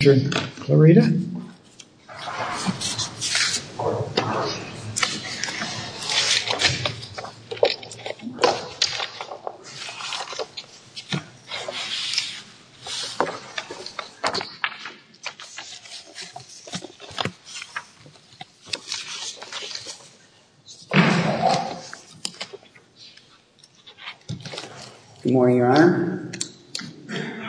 Good morning, Your Honor,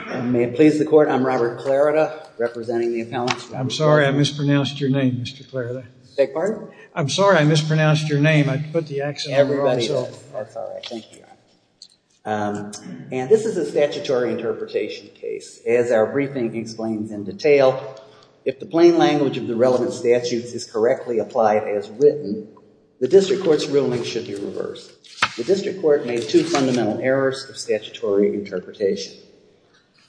and may it please the Court, I'm Robert Clarida, representing the appellants. I'm sorry I mispronounced your name, Mr. Clarida. Beg your pardon? I'm sorry I mispronounced your name. I put the accent on myself. Everybody, that's all right. Thank you, Your Honor. And this is a statutory interpretation case. As our briefing explains in detail, if the plain language of the relevant statutes is correctly applied as written, the District Court's ruling should be reversed. The District Court made two fundamental errors of statutory interpretation.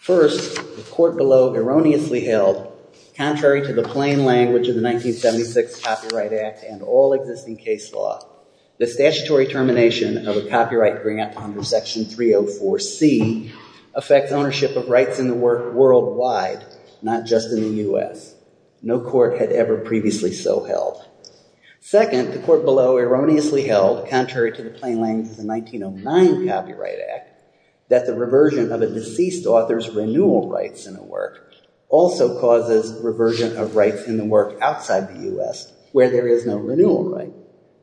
First, the court below erroneously held, contrary to the plain language of the 1976 Copyright Act and all existing case law, the statutory termination of a copyright grant under Section 304C affects ownership of rights in the work worldwide, not just in the U.S. No court had ever previously so held. Second, the court below erroneously held, contrary to the plain language of the reversion of a deceased author's renewal rights in a work also causes reversion of rights in the work outside the U.S. where there is no renewal right.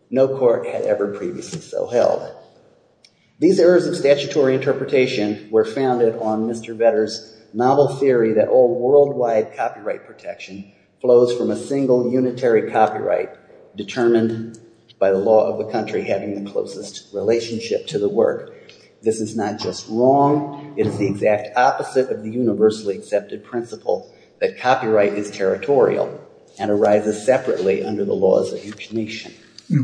No court had ever previously so held. These errors of statutory interpretation were founded on Mr. Vedder's novel theory that all worldwide copyright protection flows from a single unitary copyright determined by the law of the having the closest relationship to the work. This is not just wrong, it is the exact opposite of the universally accepted principle that copyright is territorial and arises separately under the laws of each nation.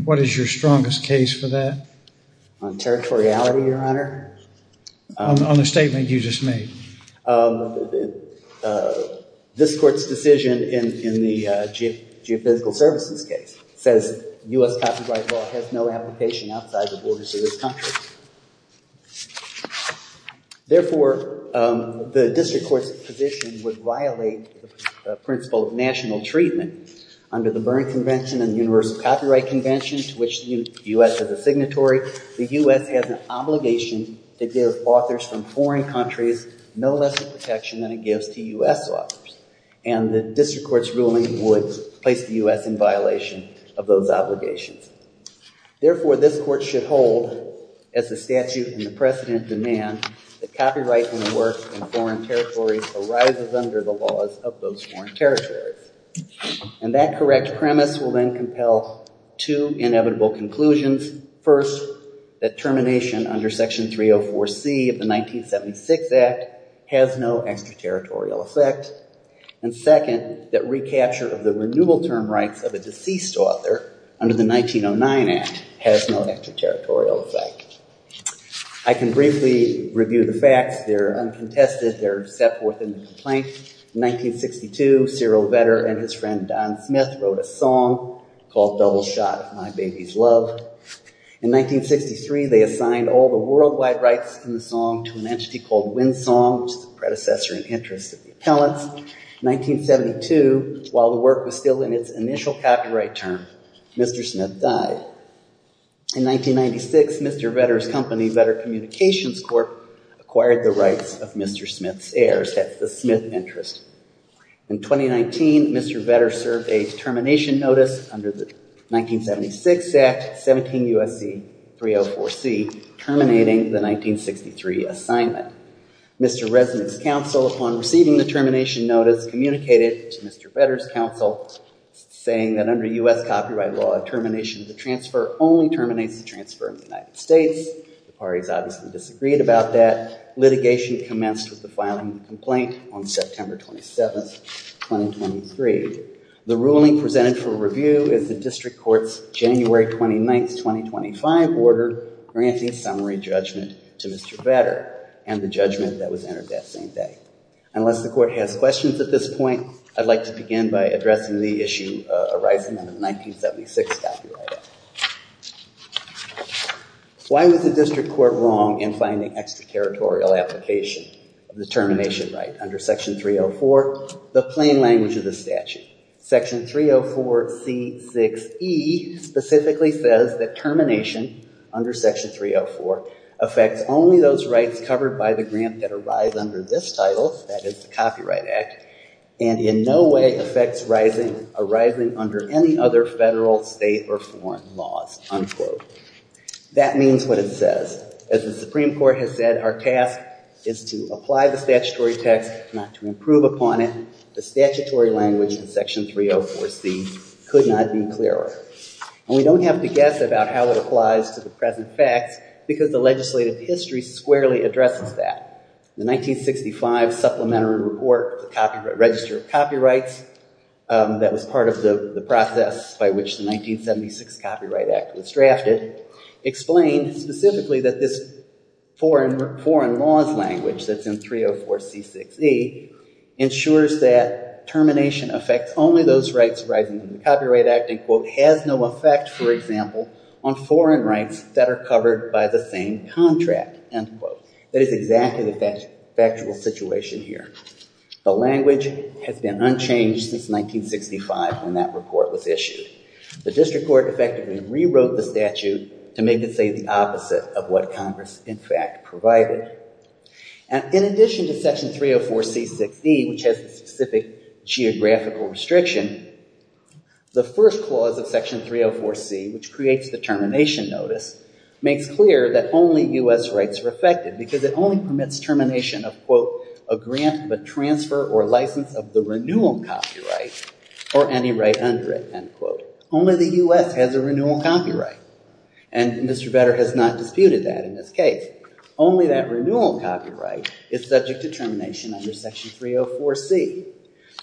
What is your strongest case for that? On territoriality, Your Honor? On the statement you just made. This court's decision in the Geophysical Services case says U.S. copyright law has no application outside the borders of this country. Therefore, the district court's position would violate the principle of national treatment under the Berne Convention and the Universal Copyright Convention to which the U.S. has a signatory. The U.S. has an obligation to give authors from foreign countries no less protection than it gives to U.S. authors and the district court's ruling would place the U.S. in violation of those obligations. Therefore, this court should hold as the statute and the precedent demand that copyright and the work in foreign territories arises under the laws of those foreign territories. And that correct premise will then compel two inevitable conclusions. First, that termination under Section 304 C of the 1976 Act has no extraterritorial effect. And second, that recapture of the renewal term rights of a deceased author under the 1909 Act has no extraterritorial effect. I can briefly review the facts. They're uncontested. They're set forth in the complaint. In 1962, Cyril Vedder and his friend Don Smith wrote a song called Double Shot of My Baby's Love. In 1963, they assigned all the worldwide rights in the song to an entity called Windsong, which is the predecessor in interest of the appellants. In 1972, while the work was still in its initial copyright term, Mr. Smith died. In 1996, Mr. Vedder's company, Vedder Communications Corp., acquired the rights of Mr. Smith's heirs, that's the Smith interest. In 2019, Mr. Vedder served a termination notice under the 1976 Act, 17 U.S.C. 304 C, terminating the 1963 assignment. Mr. Resnick's counsel, upon receiving the termination notice, communicated to Mr. Vedder's counsel, saying that under U.S. copyright law, termination of the transfer only terminates the transfer in the United States. The parties obviously disagreed about that. Litigation commenced with the filing of the complaint on September 27th, 2023. The ruling presented for review is the district court's January 29th, 2025 order, granting summary judgment to Mr. Vedder and the judgment that was entered that same day. Unless the court has questions at this point, I'd like to begin by addressing the issue arising out of the 1976 copyright act. Why was the district court wrong in finding extracurritorial application of the termination right under Section 304, the language of the statute? Section 304 C6E specifically says that termination under Section 304 affects only those rights covered by the grant that arise under this title, that is the Copyright Act, and in no way affects arising under any other federal, state, or foreign laws. That means what it says. As the Supreme Court has said, our task is to apply the statutory text, not to improve upon it. The statutory language in Section 304 C could not be clearer. And we don't have to guess about how it applies to the present facts because the legislative history squarely addresses that. The 1965 Supplementary Report, Register of Copyrights, that was part of the process by which the 1976 Copyright Act was drafted, explained specifically that this foreign laws language that's in 304 C6E ensures that termination affects only those rights arising from the Copyright Act and, quote, has no effect, for example, on foreign rights that are covered by the same contract, end quote. That is exactly the factual situation here. The language has been unchanged since 1965 when that report was issued. The District Court effectively rewrote the statute to make it say the opposite of what Congress, in fact, provided. And in addition to Section 304 C6E, which has the specific geographical restriction, the first clause of Section 304 C, which creates the termination notice, makes clear that only U.S. rights are affected because it only permits termination of, quote, a grant of a transfer or license of the renewal copyright or any right under it, end quote. Only the U.S. has a renewal copyright. And Mr. Vetter has not disputed that in this case. Only that renewal copyright is subject to termination under Section 304 C.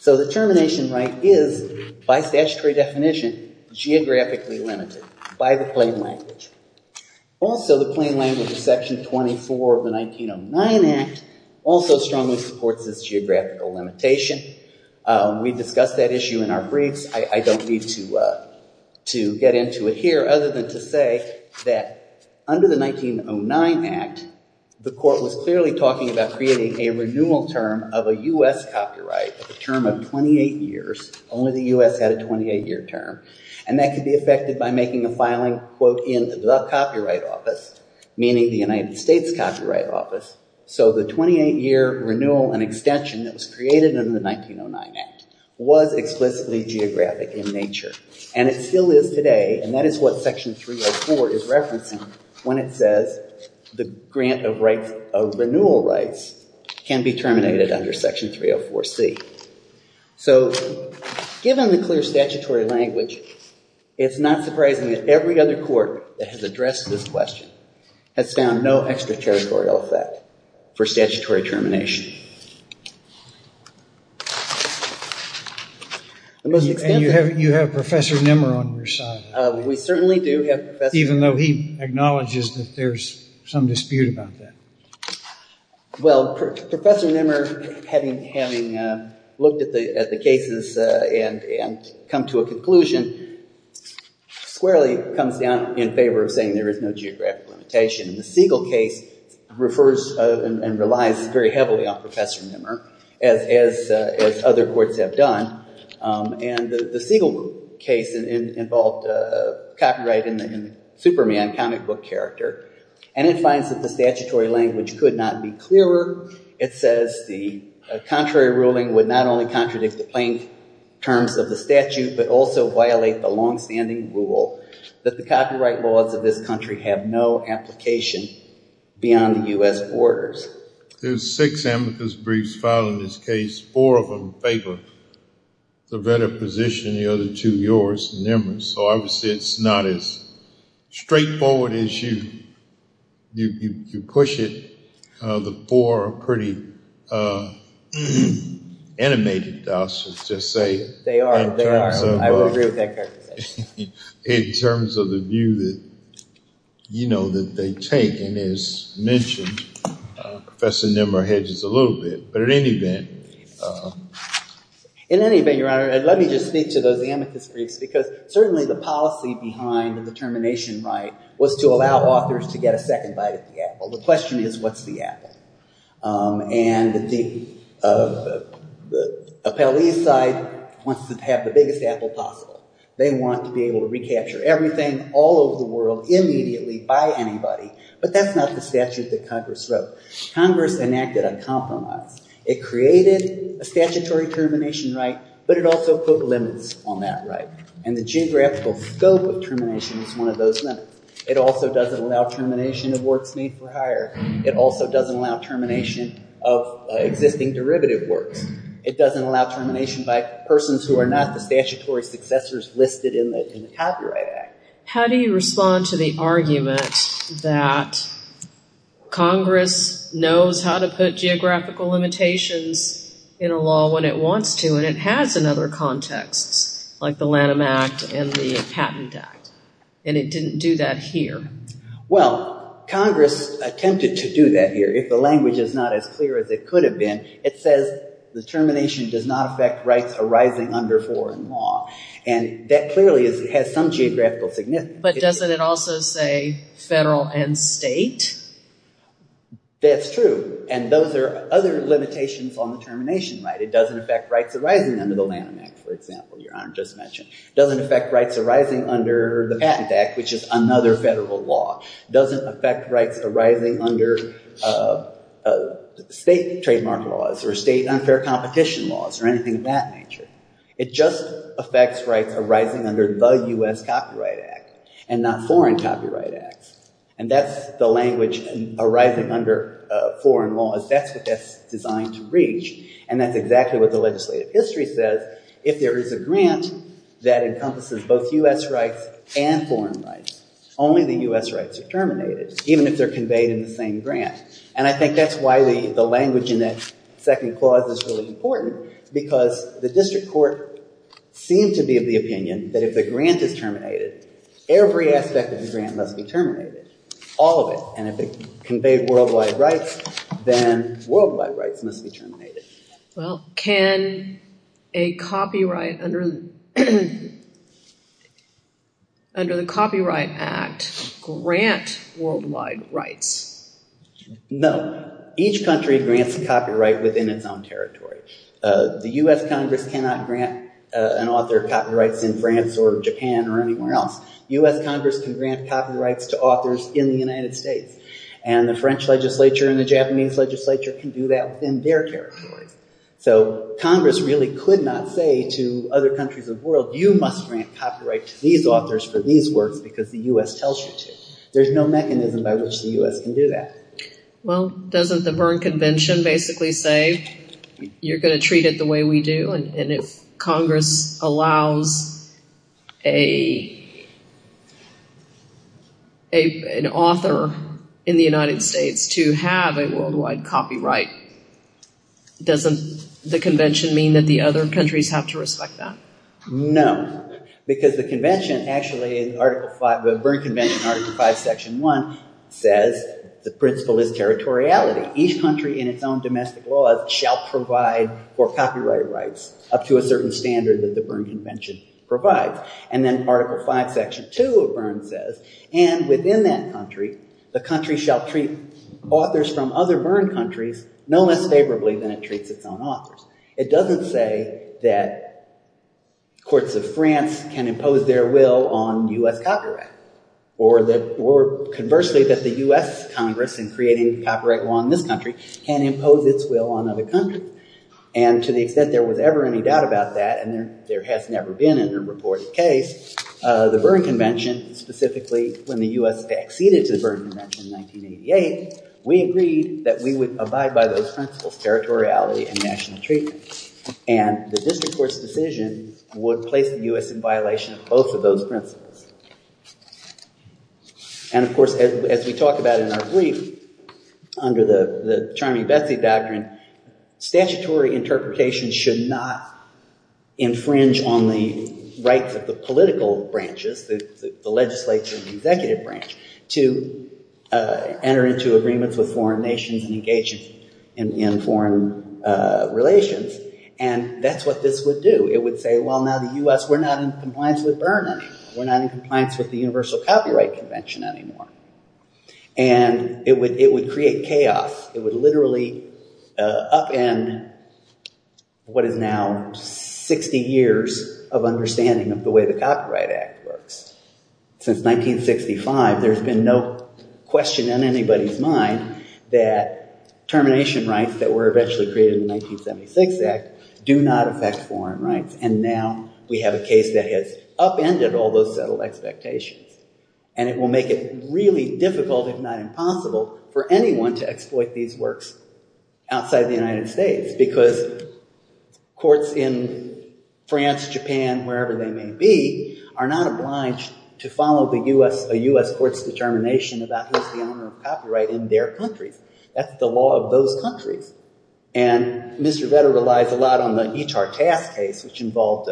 So the termination right is, by statutory definition, geographically limited by the language. Also, the plain language of Section 24 of the 1909 Act also strongly supports this geographical limitation. We discussed that issue in our briefs. I don't need to get into it here other than to say that under the 1909 Act, the court was clearly talking about creating a renewal term of a U.S. copyright, a term of 28 years. Only the U.S. had a 28-year term. And that could be filing, quote, in the copyright office, meaning the United States Copyright Office. So the 28-year renewal and extension that was created under the 1909 Act was explicitly geographic in nature. And it still is today. And that is what Section 304 is referencing when it says the grant of rights of renewal rights can be terminated under Section 304 C. So given the clear statutory language, it's not surprising that every other court that has addressed this question has found no extraterritorial effect for statutory termination. And you have Professor Nimmer on your side. We certainly do have Professor Nimmer. Even though he acknowledges that there's some dispute about that. Well, Professor Nimmer, having looked at the cases and come to a conclusion, squarely comes down in favor of saying there is no geographic limitation. The Siegel case refers and relies very heavily on Professor Nimmer, as other courts have done. And the Siegel case involved copyright in Superman, comic book character. And it finds that the statutory language could not be clearer. It says the contrary ruling would not only contradict the plain terms of the statute, but also violate the longstanding rule that the copyright laws of this country have no application beyond the U.S. orders. There's six amicus briefs filed in this case. Four of them favor the better position, the other two yours, Nimmer's. So obviously it's not as straightforward as you push it. The four are pretty animated, I should just say. They are, they are. I would agree with that characterization. In terms of the view that, you know, that they take and as mentioned, Professor Nimmer hedges a little bit. But at any event. In any event, your honor, let me just speak to those amicus briefs because certainly the policy behind the determination right was to allow authors to get a second bite at the apple. The question is, what's the apple? And the appellee side wants to have the biggest apple possible. They want to be able to recapture everything all over the world immediately by anybody. But that's not the statute that Congress wrote. Congress enacted a compromise. It created a statutory termination right, but it also put limits on that right. And the geographical scope of termination is one of those limits. It also doesn't allow termination of works made for hire. It also doesn't allow termination of existing derivative works. It doesn't allow termination by persons who are not the statutory successors listed in the copyright act. How do you respond to the argument that Congress knows how to put geographical limitations in a law when it wants to? And it has in other contexts, like the Lanham Act and the Patent Act. And it didn't do that here. Well, Congress attempted to do that here. If the language is not as clear as it could have been, it says the termination does not affect rights arising under foreign law. And that clearly has some geographical significance. But doesn't it also say federal and state? That's true. And those are other limitations on the termination right. It doesn't affect rights arising under the Lanham Act, for example, Your Honor just mentioned. Doesn't affect rights arising under the Patent Act, which is another federal law. Doesn't affect rights arising under state trademark laws or state unfair competition laws or anything of that nature. It just affects rights arising under the U.S. Copyright Act and not foreign copyright acts. And that's the language arising under foreign laws. That's what that's designed to reach. And that's exactly what the legislative history says. If there is a grant that encompasses both U.S. rights and foreign rights, only the U.S. rights are terminated, even if they're conveyed in the same grant. And I think that's why the language in that second clause is really important, because the district court seemed to be of the opinion that if the grant is terminated, every aspect of the grant must be terminated, all of it. And if it conveyed worldwide rights, then worldwide rights must be terminated. Well, can a copyright under the Copyright Act grant worldwide rights? No. Each country grants a copyright within its own territory. The U.S. Congress cannot grant an author copyrights in France or Japan or anywhere else. U.S. Congress can grant copyrights to authors in the United States. And the French legislature and the Japanese legislature can do that within their territories. So Congress really could not say to other countries of the world, you must grant copyright to these authors for these works because the U.S. tells you to. There's no mechanism by which the U.S. can do that. Well, doesn't the Berne Convention basically say, you're going to treat it the way we do? And if Congress allows an author in the United States to have a worldwide copyright, doesn't the convention mean that the other countries have to respect that? No, because the convention actually, the Berne Convention Article 5, Section 1, says the principle is territoriality. Each country in its own domestic laws shall provide for copyright rights up to a certain standard that the Berne Convention provides. And then Article 5, Section 2 of Berne says, and within that country, the country shall treat authors from other Berne countries no less favorably than it treats its own authors. It doesn't say that courts of France can impose their will on U.S. copyright. Or conversely, that the U.S. Congress, in creating copyright law in this country, can impose its will on other countries. And to the extent there was ever any doubt about that, and there has never been in a reported case, the Berne Convention, specifically when the U.S. acceded to the Berne Convention in 1988, we agreed that we would abide by those principles, territoriality and national treatment. And the district court's decision would place the U.S. in violation of both of those principles. And, of course, as we talk about in our brief, under the Charmy Betsy doctrine, statutory interpretation should not infringe on the rights of the political branches, the legislature and the executive branch, to enter into agreements with foreign nations and engage in foreign relations. And that's what this would do. It would say, well, now the U.S., we're not in compliance with Berne. We're not in compliance with the Universal Copyright Convention anymore. And it would create chaos. It would literally upend what is now 60 years of understanding of the way the Copyright Act works. Since 1965, there's been no question in anybody's mind that termination rights that were eventually created in the 1976 Act do not affect foreign rights. And now we have a case that has upended all those settled expectations. And it will make it really difficult, if not impossible, for anyone to exploit these works outside the United States. Because courts in France, Japan, wherever they may be, are not obliged to follow a U.S. court's determination about who's the owner of copyright in their countries. That's the law of those countries. And Mr. Vetter relies a lot on the Etart-Tass case, which involved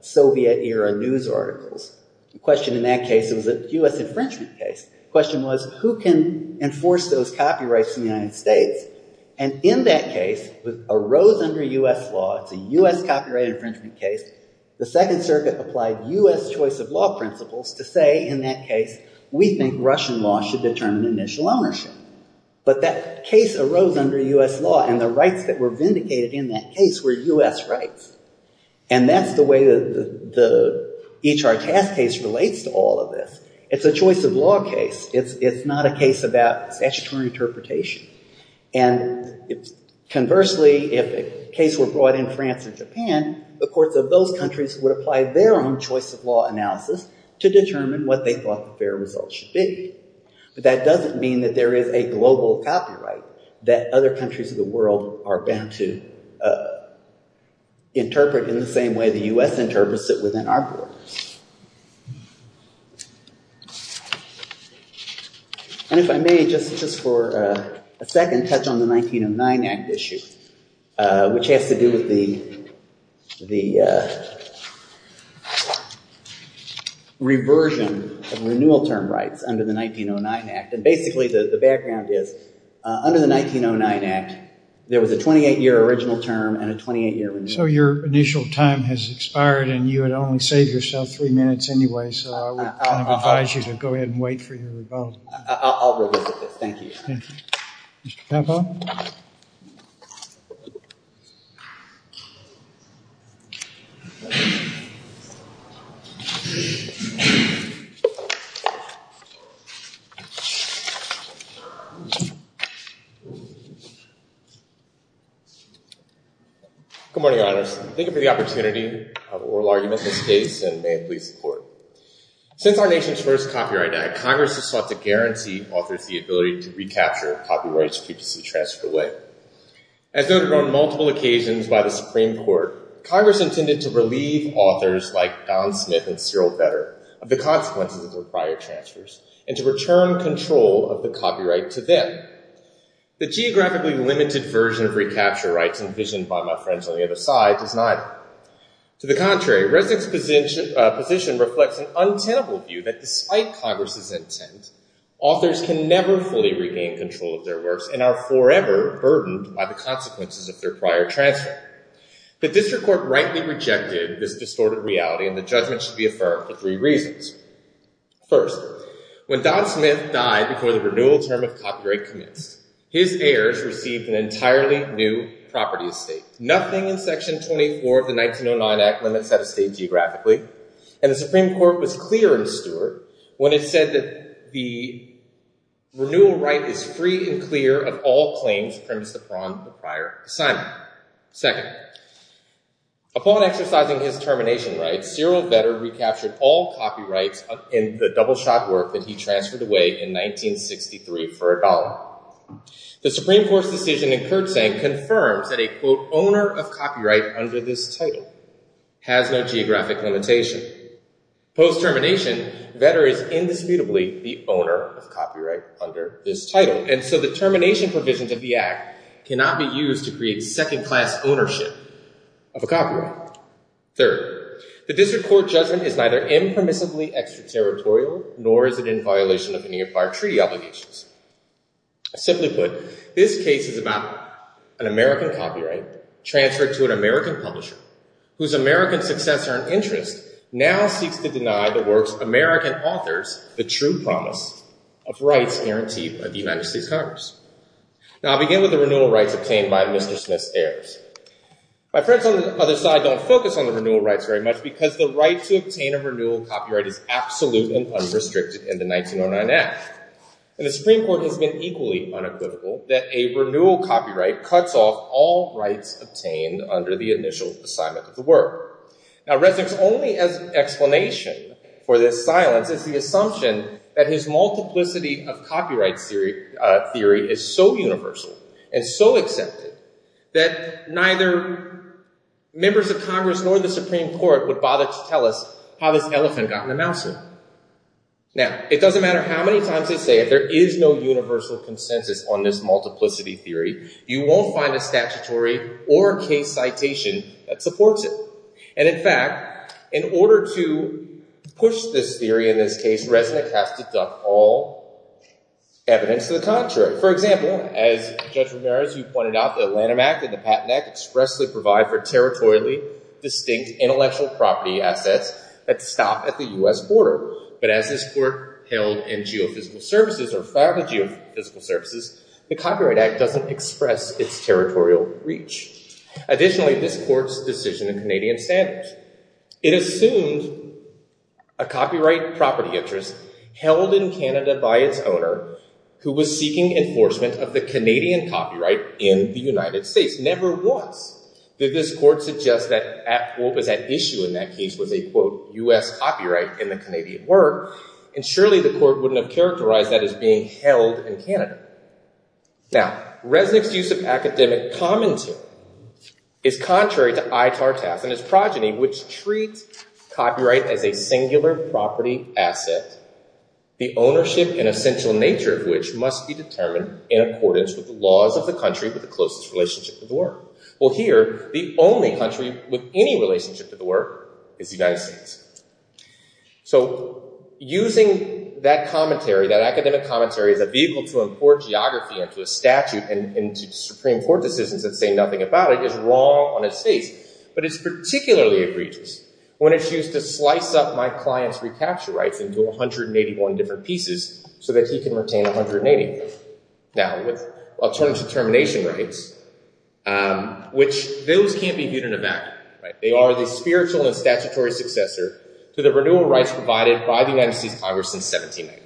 Soviet-era news articles. The question in that case was a U.S. infringement case. The question was, who can enforce those copyrights in the United States? And in that case, it arose under U.S. law. It's a U.S. copyright infringement case. The Second Circuit applied U.S. choice of law principles to say, in that case, we think Russian law should determine initial ownership. But that case arose under U.S. law, and the rights that were vindicated in that case were U.S. rights. And that's the way the Etart-Tass case relates to all of this. It's a choice of law case. It's not a case about statutory interpretation. And conversely, if a case were brought in France or Japan, the courts of those countries would apply their own choice of law analysis to determine what they thought the fair result should be. But that doesn't mean that there is a global copyright that other countries of the world are bound to interpret in the same way the U.S. interprets it within our borders. And if I may, just for a second, touch on the 1909 Act issue, which has to do with the reversion of renewal term rights under the 1909 Act. And basically, the background is, under the 1909 Act, there was a 28-year original term and a 28-year renewal. So your initial time has expired, and you had only saved yourself three minutes anyway. So I would advise you to go ahead and wait for your rebuttal. I'll revisit this. Thank you. Thank you. Mr. Capo? Good morning, Your Honors. Thank you for the opportunity of oral argument in this case, and may it please the Court. Since our nation's first copyright act, Congress has sought to guarantee authors the ability to recapture copyrights previously transferred away. As noted on multiple occasions by the Supreme Court, Congress intended to relieve authors like Don Smith and Cyril Vedder of the consequences of their prior transfers and to return control of the copyright to them. The geographically limited version of recapture rights envisioned by my friends on the other side does not. To the contrary, Resnick's position reflects an untenable view that despite Congress's intent, authors can never fully regain control of their works and are forever burdened by the consequences of their prior transfer. The District Court rightly rejected this distorted reality, and the judgment should be affirmed for three reasons. First, when Don Smith died before the renewal term of copyright commenced, his heirs received an entirely new property estate, nothing in Section 24 of the 1909 Act limits that estate geographically, and the Supreme Court was clear in Stewart when it said that the renewal right is free and clear of all claims premised upon the prior assignment. Second, upon exercising his termination rights, Cyril Vedder recaptured all copyrights in the double-shot work that he transferred away in 1963 for a dollar. The Supreme Court's decision in Kurtzank confirms that a, quote, owner of copyright under this title has no geographic limitation. Post-termination, Vedder is indisputably the owner of copyright under this title, and so the termination provisions of the Act cannot be used to create second-class ownership of a copyright. Third, the district court judgment is neither impermissibly extraterritorial, nor is it in violation of any of our treaty obligations. I simply put, this case is about an American copyright transferred to an American publisher whose American successor and interest now seeks to deny the works American authors the true promise of rights guaranteed by the United States Congress. Now, I'll begin with the renewal rights obtained by Mr. Smith's heirs. My friends on the other side don't focus on the renewal rights very much because the right to obtain a renewal copyright is absolutely unrestricted in the 1909 Act. And the Supreme Court has been equally unequivocal that a renewal copyright cuts off all rights obtained under the initial assignment of the work. Now, Resnick's only explanation for this silence is the assumption that his multiplicity of copyright theory is so universal and so accepted that neither members of Congress nor the Supreme Court would bother to tell us how this elephant got in the mousetrap. Now, it doesn't matter how many times I say if there is no universal consensus on this multiplicity theory, you won't find a statutory or a case citation that supports it. And in fact, in order to push this theory in this case, Resnick has to duck all evidence to the contrary. For example, as Judge Ramirez, you pointed out the Lanham Act and the Patent Act expressly provide for territorially distinct intellectual property assets that stop at the U.S. border. But as this court held in geophysical services or filed the geophysical services, the Copyright Act doesn't express its territorial reach. Additionally, this court's decision in Canadian standards, it assumed a copyright property interest held in Canada by its owner who was seeking enforcement of the Canadian copyright in the United States. Never once did this court suggest that what was at issue in that case was a quote, U.S. copyright in the Canadian word. And surely the court wouldn't have characterized that as being held in Canada. Now, Resnick's use of academic commentary is contrary to I. Tartas and his progeny, which treats copyright as a singular property asset, the ownership and essential nature of which must be determined in accordance with the laws of the country with the closest relationship to the work. Well, here, the only country with any relationship to the work is the United States. So using that commentary, that academic commentary as a vehicle to import geography into a statute and into Supreme Court decisions that say nothing about it is wrong on its face, but it's particularly egregious when it's used to slice up my client's recapture rights into 181 different pieces so that he can retain 180. Now, with alternative termination rights, which those can't be viewed in a vacuum, right? They are the spiritual and statutory successor to the renewal rights provided by the United States Congress in 1789.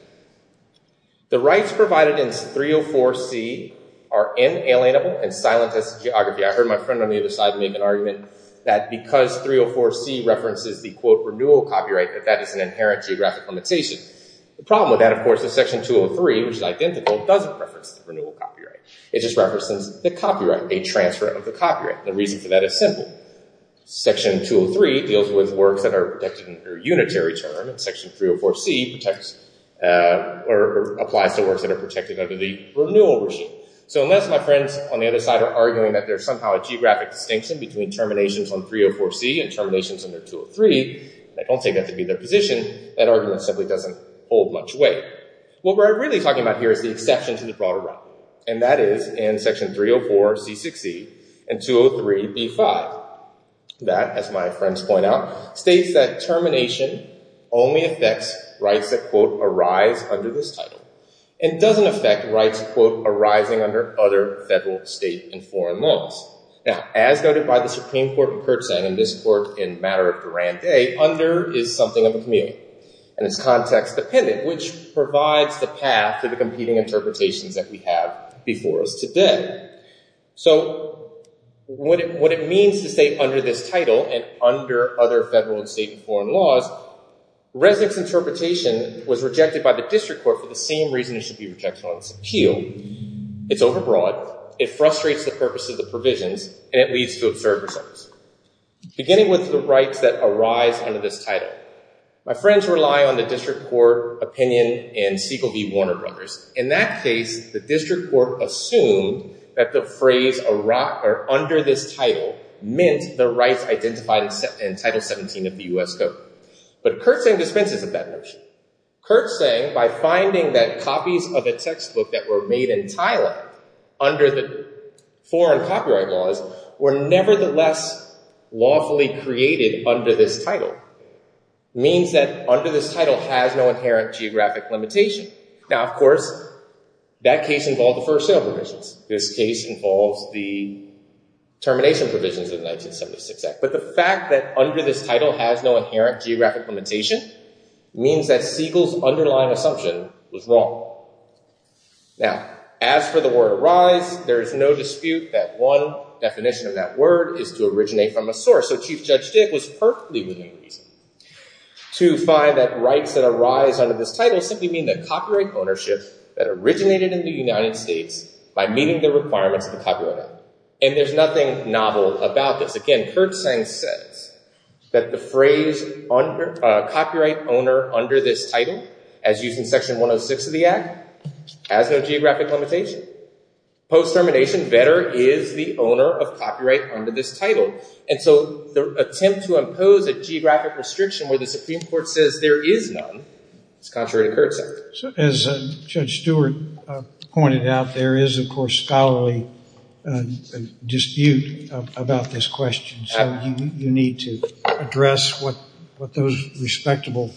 The rights provided in 304C are inalienable and silent as to geography. I heard my friend on the other side make an argument that because 304C references the quote, renewal copyright, that that is an inherent geographic limitation. The problem with that, of course, is section 203, which is identical, doesn't reference the renewal copyright. It just references the copyright, a transfer of the copyright. And the reason for that is simple. Section 203 deals with works that are protected under unitary term and section 304C protects or applies to works that are protected under the renewal regime. So unless my friends on the other side are arguing that there's somehow a geographic distinction between terminations on 304C and terminations under 203, they don't take that to be their position. That argument simply doesn't hold much weight. What we're really talking about here is the exception to the broader realm. And that is in section 304C-60 and 203B-5. That, as my friends point out, states that termination only affects rights that quote, arise under this title and doesn't affect rights quote, arising under other federal state and foreign laws. Now, as noted by the Supreme Court, and this court in matter of grande, under is something of a community and it's context dependent, which provides the path to the competing interpretations that we have before us today. So what it means to say under this title and under other federal and state and foreign laws, Resnick's interpretation was rejected by the district court for the same reason it should be rejected on this appeal. It's overbroad. It frustrates the purpose of the provisions and it leads to absurd results. Beginning with the rights that arise under this title. My friends rely on the district court opinion and Siegel v. Warner Brothers. In that case, the district court assumed that the phrase arise or under this title meant the rights identified in Title 17 of the US Code. But Kurtz saying dispenses with that notion. Kurtz saying by finding that copies of a textbook that were made in Thailand under the foreign copyright laws were nevertheless lawfully created under this title means that under this title has no inherent geographic limitation. Now, of course, that case involved the first sale provisions. This case involves the termination provisions of the 1976 Act. But the fact that under this title has no inherent geographic limitation means that Siegel's underlying assumption was wrong. Now, as for the word arise, there is no dispute that one definition of that word is to originate from a source. So Chief Judge Dick was perfectly within reason to find that rights that arise under this title simply mean that copyright ownership that originated in the United States by meeting the requirements of the copyright act. And there's nothing novel about this. Again, Kurtz saying says that the phrase copyright owner under this title as used in Section 106 of the Act has no geographic limitation. Post termination, better is the owner of copyright under this title. And so the attempt to impose a geographic restriction where the Supreme Court says there is none, is contrary to Kurtz's. So as Judge Stewart pointed out, there is, of course, scholarly dispute about this question. So you need to address what those respectable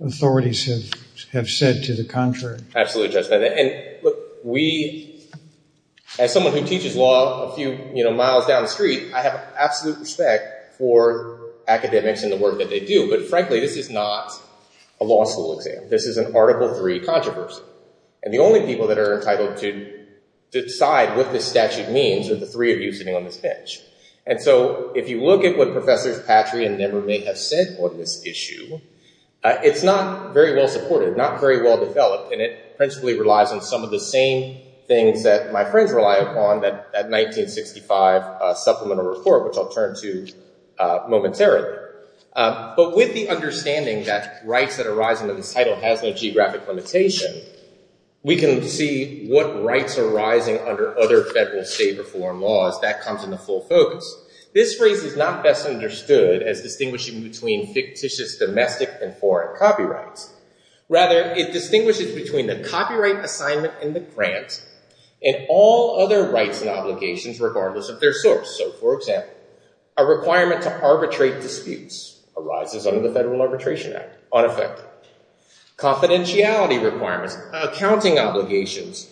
authorities have said to the contrary. Absolutely, Judge Bennett. And look, we, as someone who teaches law a few miles down the street, I have absolute respect for academics and the work that they do. But frankly, this is not a law school exam. This is an Article III controversy. And the only people that are entitled to decide what this statute means are the three of you sitting on this bench. And so if you look at what Professors Patry and Nemer may have said on this issue, it's not very well supported, not very well developed. And it principally relies on some of the same things that my friends rely upon, that 1965 Supplemental Report, which I'll turn to momentarily. But with the understanding that rights that arise under this title has no geographic limitation, we can see what rights are rising under other federal, state, or foreign laws. That comes into full focus. This phrase is not best understood as distinguishing between fictitious, domestic, and foreign copyrights. Rather, it distinguishes between the copyright assignment and the grant and all other rights and obligations regardless of their source. So for example, a requirement to arbitrate disputes arises under the Federal Arbitration Act, unaffected. Confidentiality requirements, accounting obligations,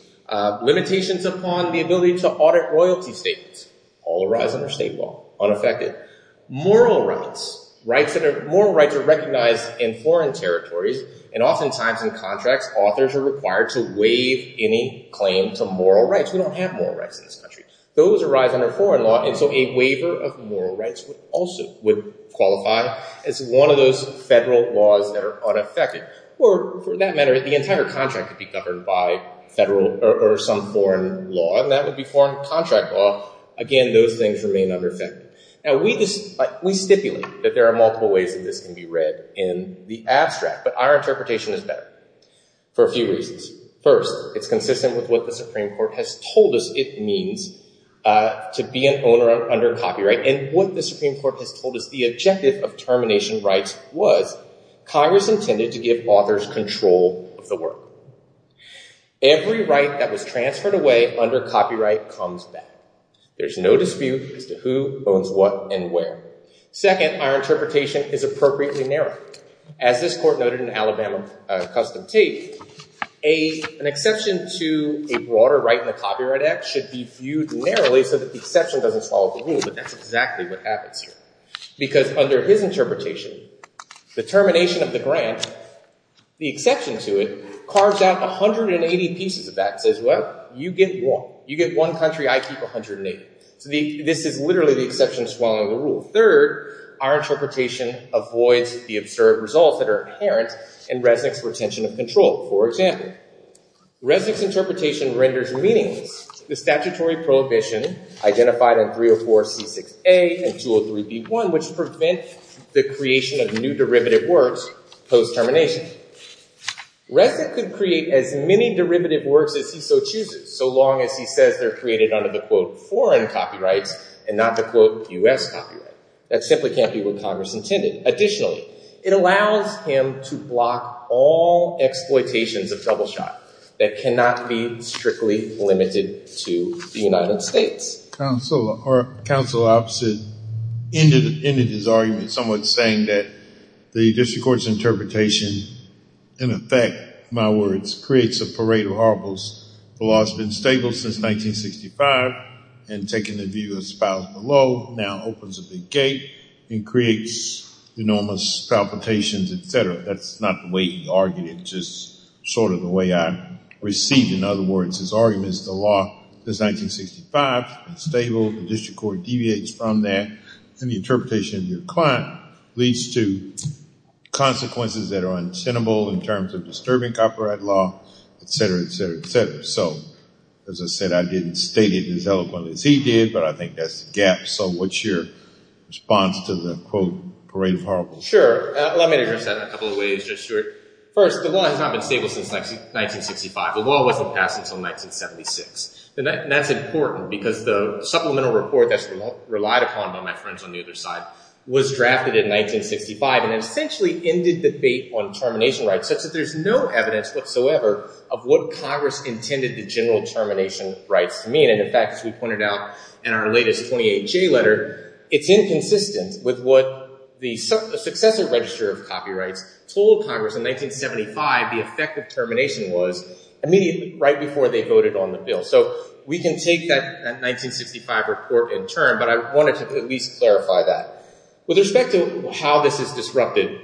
limitations upon the ability to audit royalty statements, all arise under state law, unaffected. Moral rights. Moral rights are recognized in foreign territories and oftentimes in contracts, authors are required to waive any claim to moral rights. We don't have moral rights in this country. Those arise under foreign law and so a waiver of moral rights also would qualify as one of those federal laws that are unaffected. Or for that matter, the entire contract could be governed by federal or some foreign law and that would be foreign contract law. Again, those things remain unaffected. Now we stipulate that there are multiple ways that this can be read in the abstract but our interpretation is better for a few reasons. First, it's consistent with what the Supreme Court has told us it means to be an owner under copyright and what the Supreme Court has told us the objective of termination rights was Congress intended to give authors control of the work. Every right that was transferred away under copyright comes back. There's no dispute as to who owns what and where. Second, our interpretation is appropriately narrow. As this court noted in Alabama Custom Tape, an exception to a broader right in the Copyright Act should be viewed narrowly so that the exception doesn't swallow the rule but that's exactly what happens here because under his interpretation, the termination of the grant, the exception to it, carves out 180 pieces of that and says, well, you get one. You get one country, I keep 180. So this is literally the exception swallowing the rule. Third, our interpretation avoids the absurd results that are inherent in Resnick's retention of control. For example, Resnick's interpretation renders meaningless the statutory prohibition identified in 304C6A and 203B1 which prevent the creation of new derivative works post termination. Resnick could create as many derivative works as he so chooses so long as he says they're created under the quote foreign copyrights and not the quote U.S. copyright. That simply can't be what Congress intended. Additionally, it allows him to block all exploitations of double shot that cannot be strictly limited to the United States. Counsel opposite ended his argument somewhat saying that the district court's interpretation in effect, my words, creates a parade of horribles. The law's been stable since 1965 and taking the view of spouse below now opens a big gate and creates enormous palpitations, et cetera. That's not the way he argued it. Just sort of the way I received, in other words, his arguments, the law is 1965, it's stable. The district court deviates from that and the interpretation of your client leads to consequences that are untenable in terms of disturbing copyright law, et cetera, et cetera, et cetera. So as I said, I didn't state it as eloquently as he did, but I think that's the gap. So what's your response to the quote parade of horribles? Sure. Let me address that in a couple of ways, Judge Stewart. First, the law has not been stable since 1965. The law wasn't passed until 1976. And that's important because the supplemental report that's relied upon by my friends on the other side was drafted in 1965 and essentially ended debate on termination rights such that there's no evidence whatsoever of what Congress intended the general termination rights to mean. And in fact, as we pointed out in our latest 28J letter, it's inconsistent with what the successor register of copyrights told Congress in 1975, the effect of termination was immediately right before they voted on the bill. So we can take that 1965 report in turn, but I wanted to at least clarify that. With respect to how this is disrupted,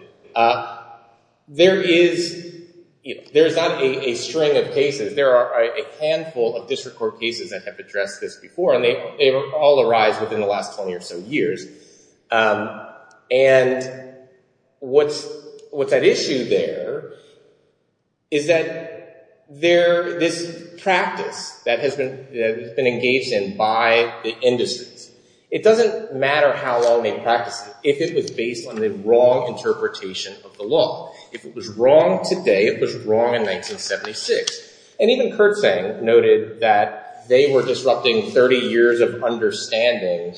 there is not a string of cases. There are a handful of district court cases that have addressed this before, and they all arise within the last 20 or so years. And what's at issue there is that this practice that has been engaged in by the industries, it doesn't matter how long they practice it if it was based on the wrong interpretation of the law. If it was wrong today, it was wrong in 1976. And even Kurtzsang noted that they were disrupting 30 years of understanding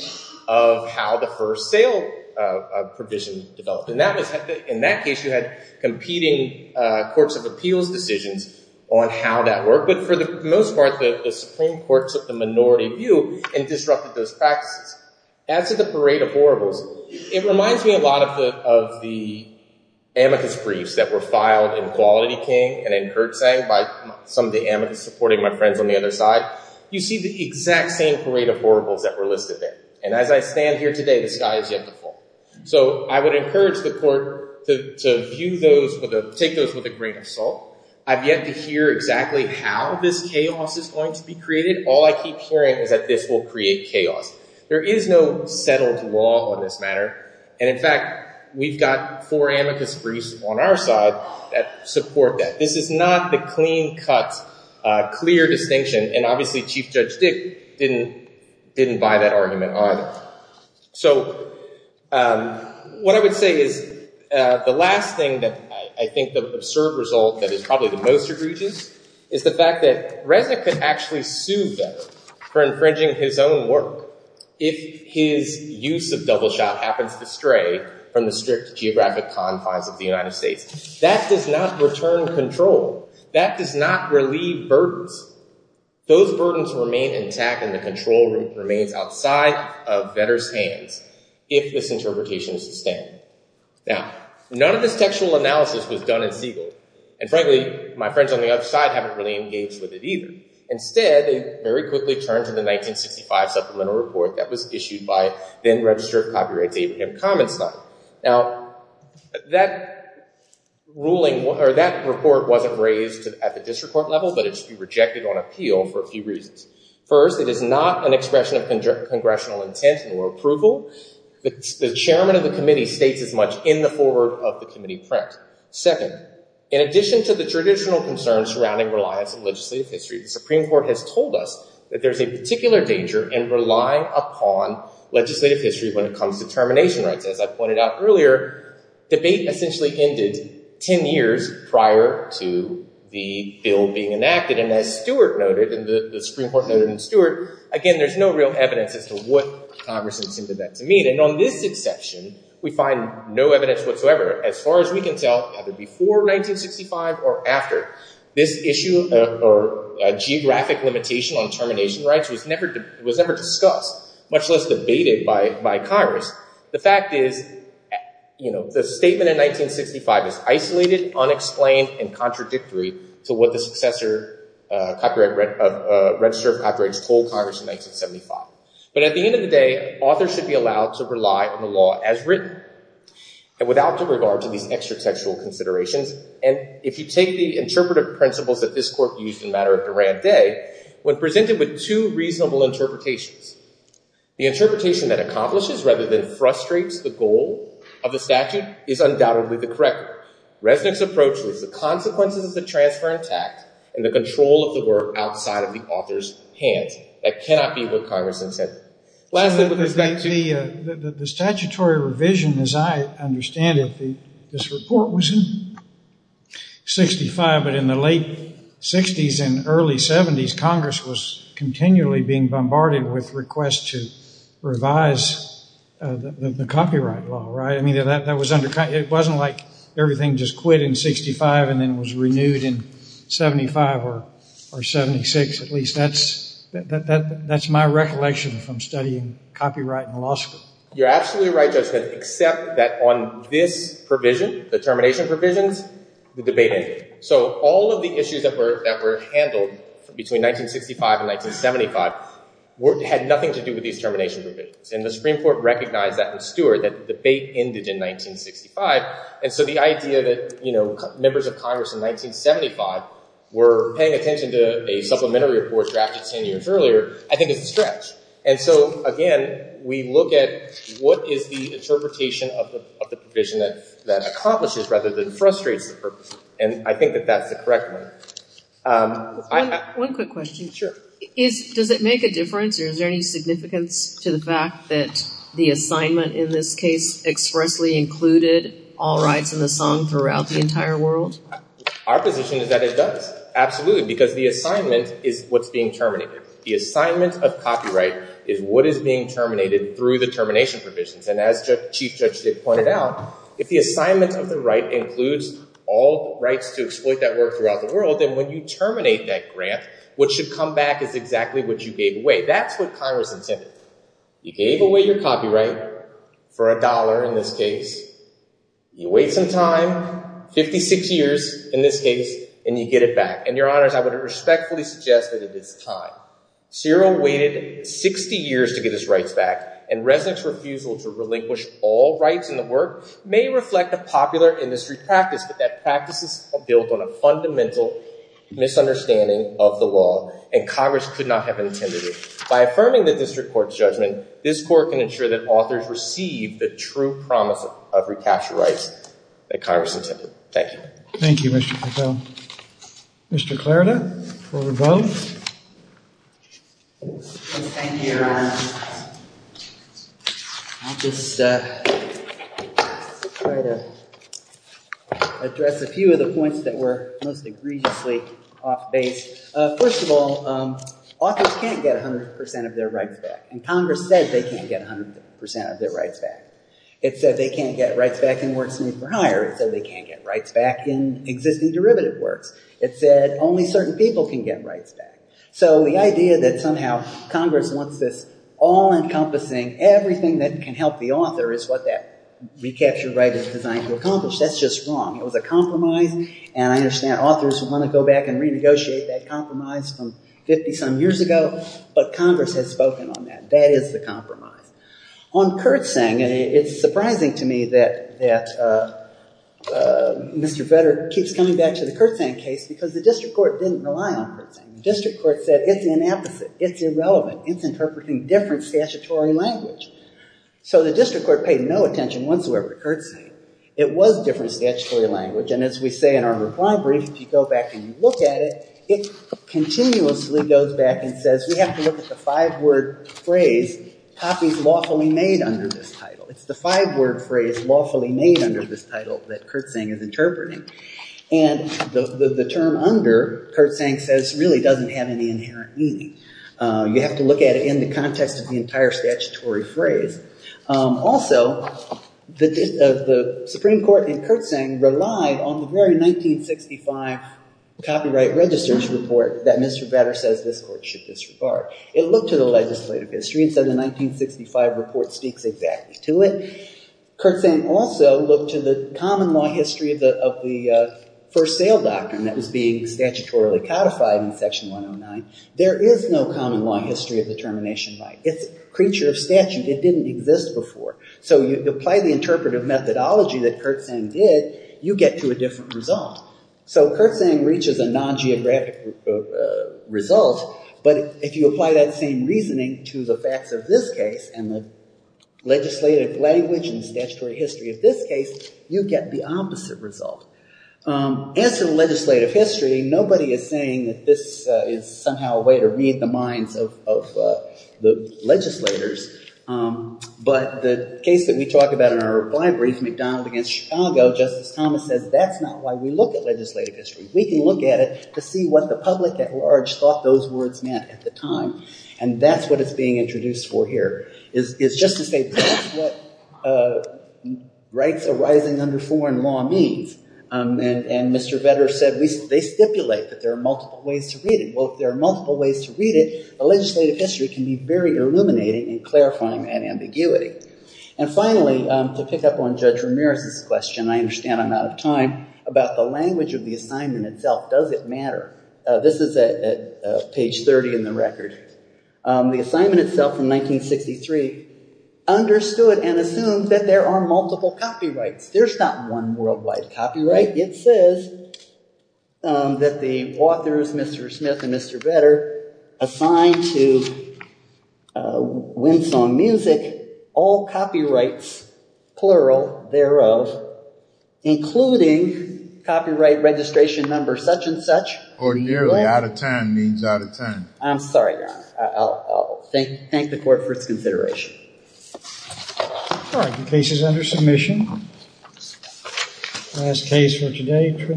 of how the first sale provision developed. And in that case, you had competing courts of appeals decisions on how that worked. But for the most part, the Supreme Court took the minority view and disrupted those practices. As to the parade of horribles, it reminds me a lot of the amicus briefs that were filed in Quality King and in Kurtzsang by some of the amicus supporting my friends on the other side. You see the exact same parade of horribles that were listed there. And as I stand here today, the sky is yet to fall. So I would encourage the court to view those, take those with a grain of salt. I've yet to hear exactly how this chaos is going to be created. All I keep hearing is that this will create chaos. There is no settled law on this matter. And in fact, we've got four amicus briefs on our side that support that. This is not the clean cut, clear distinction. And obviously Chief Judge Dick didn't buy that argument on. So what I would say is the last thing that I think the absurd result that is probably the most egregious is the fact that Reza could actually sue Vetter for infringing his own work if his use of double shot happens to stray from the strict geographic confines of the United States. That does not return control. That does not relieve burdens. Those burdens remain intact and the control remains outside of Vetter's hands if this interpretation is sustained. Now, none of this textual analysis was done in Siegel. And frankly, my friends on the other side haven't really engaged with it either. Instead, they very quickly turned to the 1965 supplemental report that was issued by then registered copyrights Abraham Comenstein. Now, that ruling or that report wasn't raised at the district court level, but it's been rejected on appeal for a few reasons. First, it is not an expression of congressional intent nor approval. The chairman of the committee states as much in the forward of the committee press. Second, in addition to the traditional concerns surrounding reliance on legislative history, the Supreme Court has told us that there's a particular danger in relying upon legislative history when it comes to termination rights. As I pointed out earlier, debate essentially ended 10 years prior to the bill being enacted. And as Stewart noted and the Supreme Court noted in Stewart, again, there's no real evidence as to what Congress intended that to mean. And on this exception, we find no evidence whatsoever. As far as we can tell, either before 1965 or after, this issue or geographic limitation on termination rights was never discussed, much less debated by Congress. The fact is, the statement in 1965 is isolated, unexplained, and contradictory to what the successor register of copyrights told Congress in 1975. But at the end of the day, authors should be allowed to rely on the law as written. And without the regard to these extra-textual considerations, and if you take the interpretive principles that this court used in the matter of Durand Day, when presented with two reasonable interpretations, the interpretation that accomplishes rather than frustrates the goal of the statute is undoubtedly the correct one. Resnick's approach was the consequences of the transfer in tact and the control of the work outside of the author's hands. That cannot be what Congress intended. Lastly, with respect to the statutory revision, as I understand it, this report was in 65, but in the late 60s and early 70s, Congress was continually being bombarded with requests to revise the copyright law, right? I mean, that was undercut. It wasn't like everything just quit in 65 and then was renewed in 75 or 76, that's my recollection from studying copyright in law school. You're absolutely right, Judge Smith, except that on this provision, the termination provisions, the debate ended. So all of the issues that were handled between 1965 and 1975 had nothing to do with these termination provisions. And the Supreme Court recognized that in Stewart that the debate ended in 1965. And so the idea that members of Congress in 1975 were paying attention to a supplementary report drafted 10 years earlier, I think it's a stretch. And so again, we look at what is the interpretation of the provision that accomplishes rather than frustrates the purpose. And I think that that's the correct one. One quick question. Sure. Does it make a difference or is there any significance to the fact that the assignment in this case expressly included all rights in the song throughout the entire world? Our position is that it does. Absolutely, because the assignment is what's being terminated. The assignment of copyright is what is being terminated through the termination provisions. And as Chief Judge did point it out, if the assignment of the right includes all rights to exploit that work throughout the world, then when you terminate that grant, what should come back is exactly what you gave away. That's what Congress intended. You gave away your copyright for a dollar in this case, you wait some time, 56 years in this case, and you get it back. And Your Honors, I would respectfully suggest that it is time. Cyril waited 60 years to get his rights back and Resnick's refusal to relinquish all rights in the work may reflect a popular industry practice, but that practice is built on a fundamental misunderstanding of the law and Congress could not have intended it. By affirming the district court's judgment, this court can ensure that authors receive the true promise of recapture rights that Congress intended. Thank you. Thank you, Mr. Pickle. Mr. Clarida, for both. Thank you, Your Honor. I'll just try to address a few of the points that were most egregiously off base. First of all, authors can't get 100% of their rights back and Congress said they can't get 100% of their rights back. It said they can't get rights back in works new for hire. It said they can't get rights back in existing derivative works. It said only certain people can get rights back. So the idea that somehow Congress wants this all encompassing, everything that can help the author is what that recapture right is designed to accomplish. That's just wrong. It was a compromise and I understand authors want to go back and renegotiate that compromise from 50 some years ago, but Congress has spoken on that. That is the compromise. On Kurtzing, it's surprising to me that Mr. Vedder keeps coming back to the Kurtzing case because the district court didn't rely on Kurtzing. The district court said it's inapposite. It's irrelevant. It's interpreting different statutory language. So the district court paid no attention whatsoever to Kurtzing. It was different statutory language and as we say in our reply brief, if you go back and look at it, it continuously goes back and says we have to look at the five word phrase, copies lawfully made under this title. It's the five word phrase lawfully made under this title that Kurtzing is interpreting and the term under Kurtzing says really doesn't have any inherent meaning. You have to look at it in the context of the entire statutory phrase. Also, the supreme court in Kurtzing relied on the very 1965 copyright registers report that Mr. Vedder says this court should disregard. It looked to the legislative history and said the 1965 report speaks exactly to it. Kurtzing also looked to the common law history of the first sale doctrine that was being statutorily codified in section 109. There is no common law history of the termination right. It's a creature of statute. It didn't exist before. So you apply the interpretive methodology that Kurtzing did, you get to a different result. So Kurtzing reaches a non-geographic result but if you apply that same reasoning to the facts of this case and the legislative language and statutory history of this case, you get the opposite result. As for the legislative history, nobody is saying that this is somehow a way to read the minds of the legislators. But the case that we talk about in our reply brief, McDonald against Chicago, Justice Thomas says that's not why we look at legislative history. We can look at it to see what the public at large thought those words meant at the time. And that's what it's being introduced for here. It's just to say that's what rights arising under foreign law means. And Mr. Vedder said, they stipulate that there are multiple ways to read it. Well, if there are multiple ways to read it, a legislative history can be very illuminating and clarifying that ambiguity. And finally, to pick up on Judge Ramirez's question, I understand I'm out of time, about the language of the assignment itself. Does it matter? This is at page 30 in the record. The assignment itself from 1963 understood and assumed that there are multiple copyrights. There's not one worldwide copyright. It says that the authors, Mr. Smith and Mr. Vedder, assigned to Winsong Music, all copyrights plural thereof, including copyright registration number such and such. Or nearly out of time means out of time. I'm sorry, Your Honor. I'll thank the court for its consideration. All right, the case is under submission. Last case for today.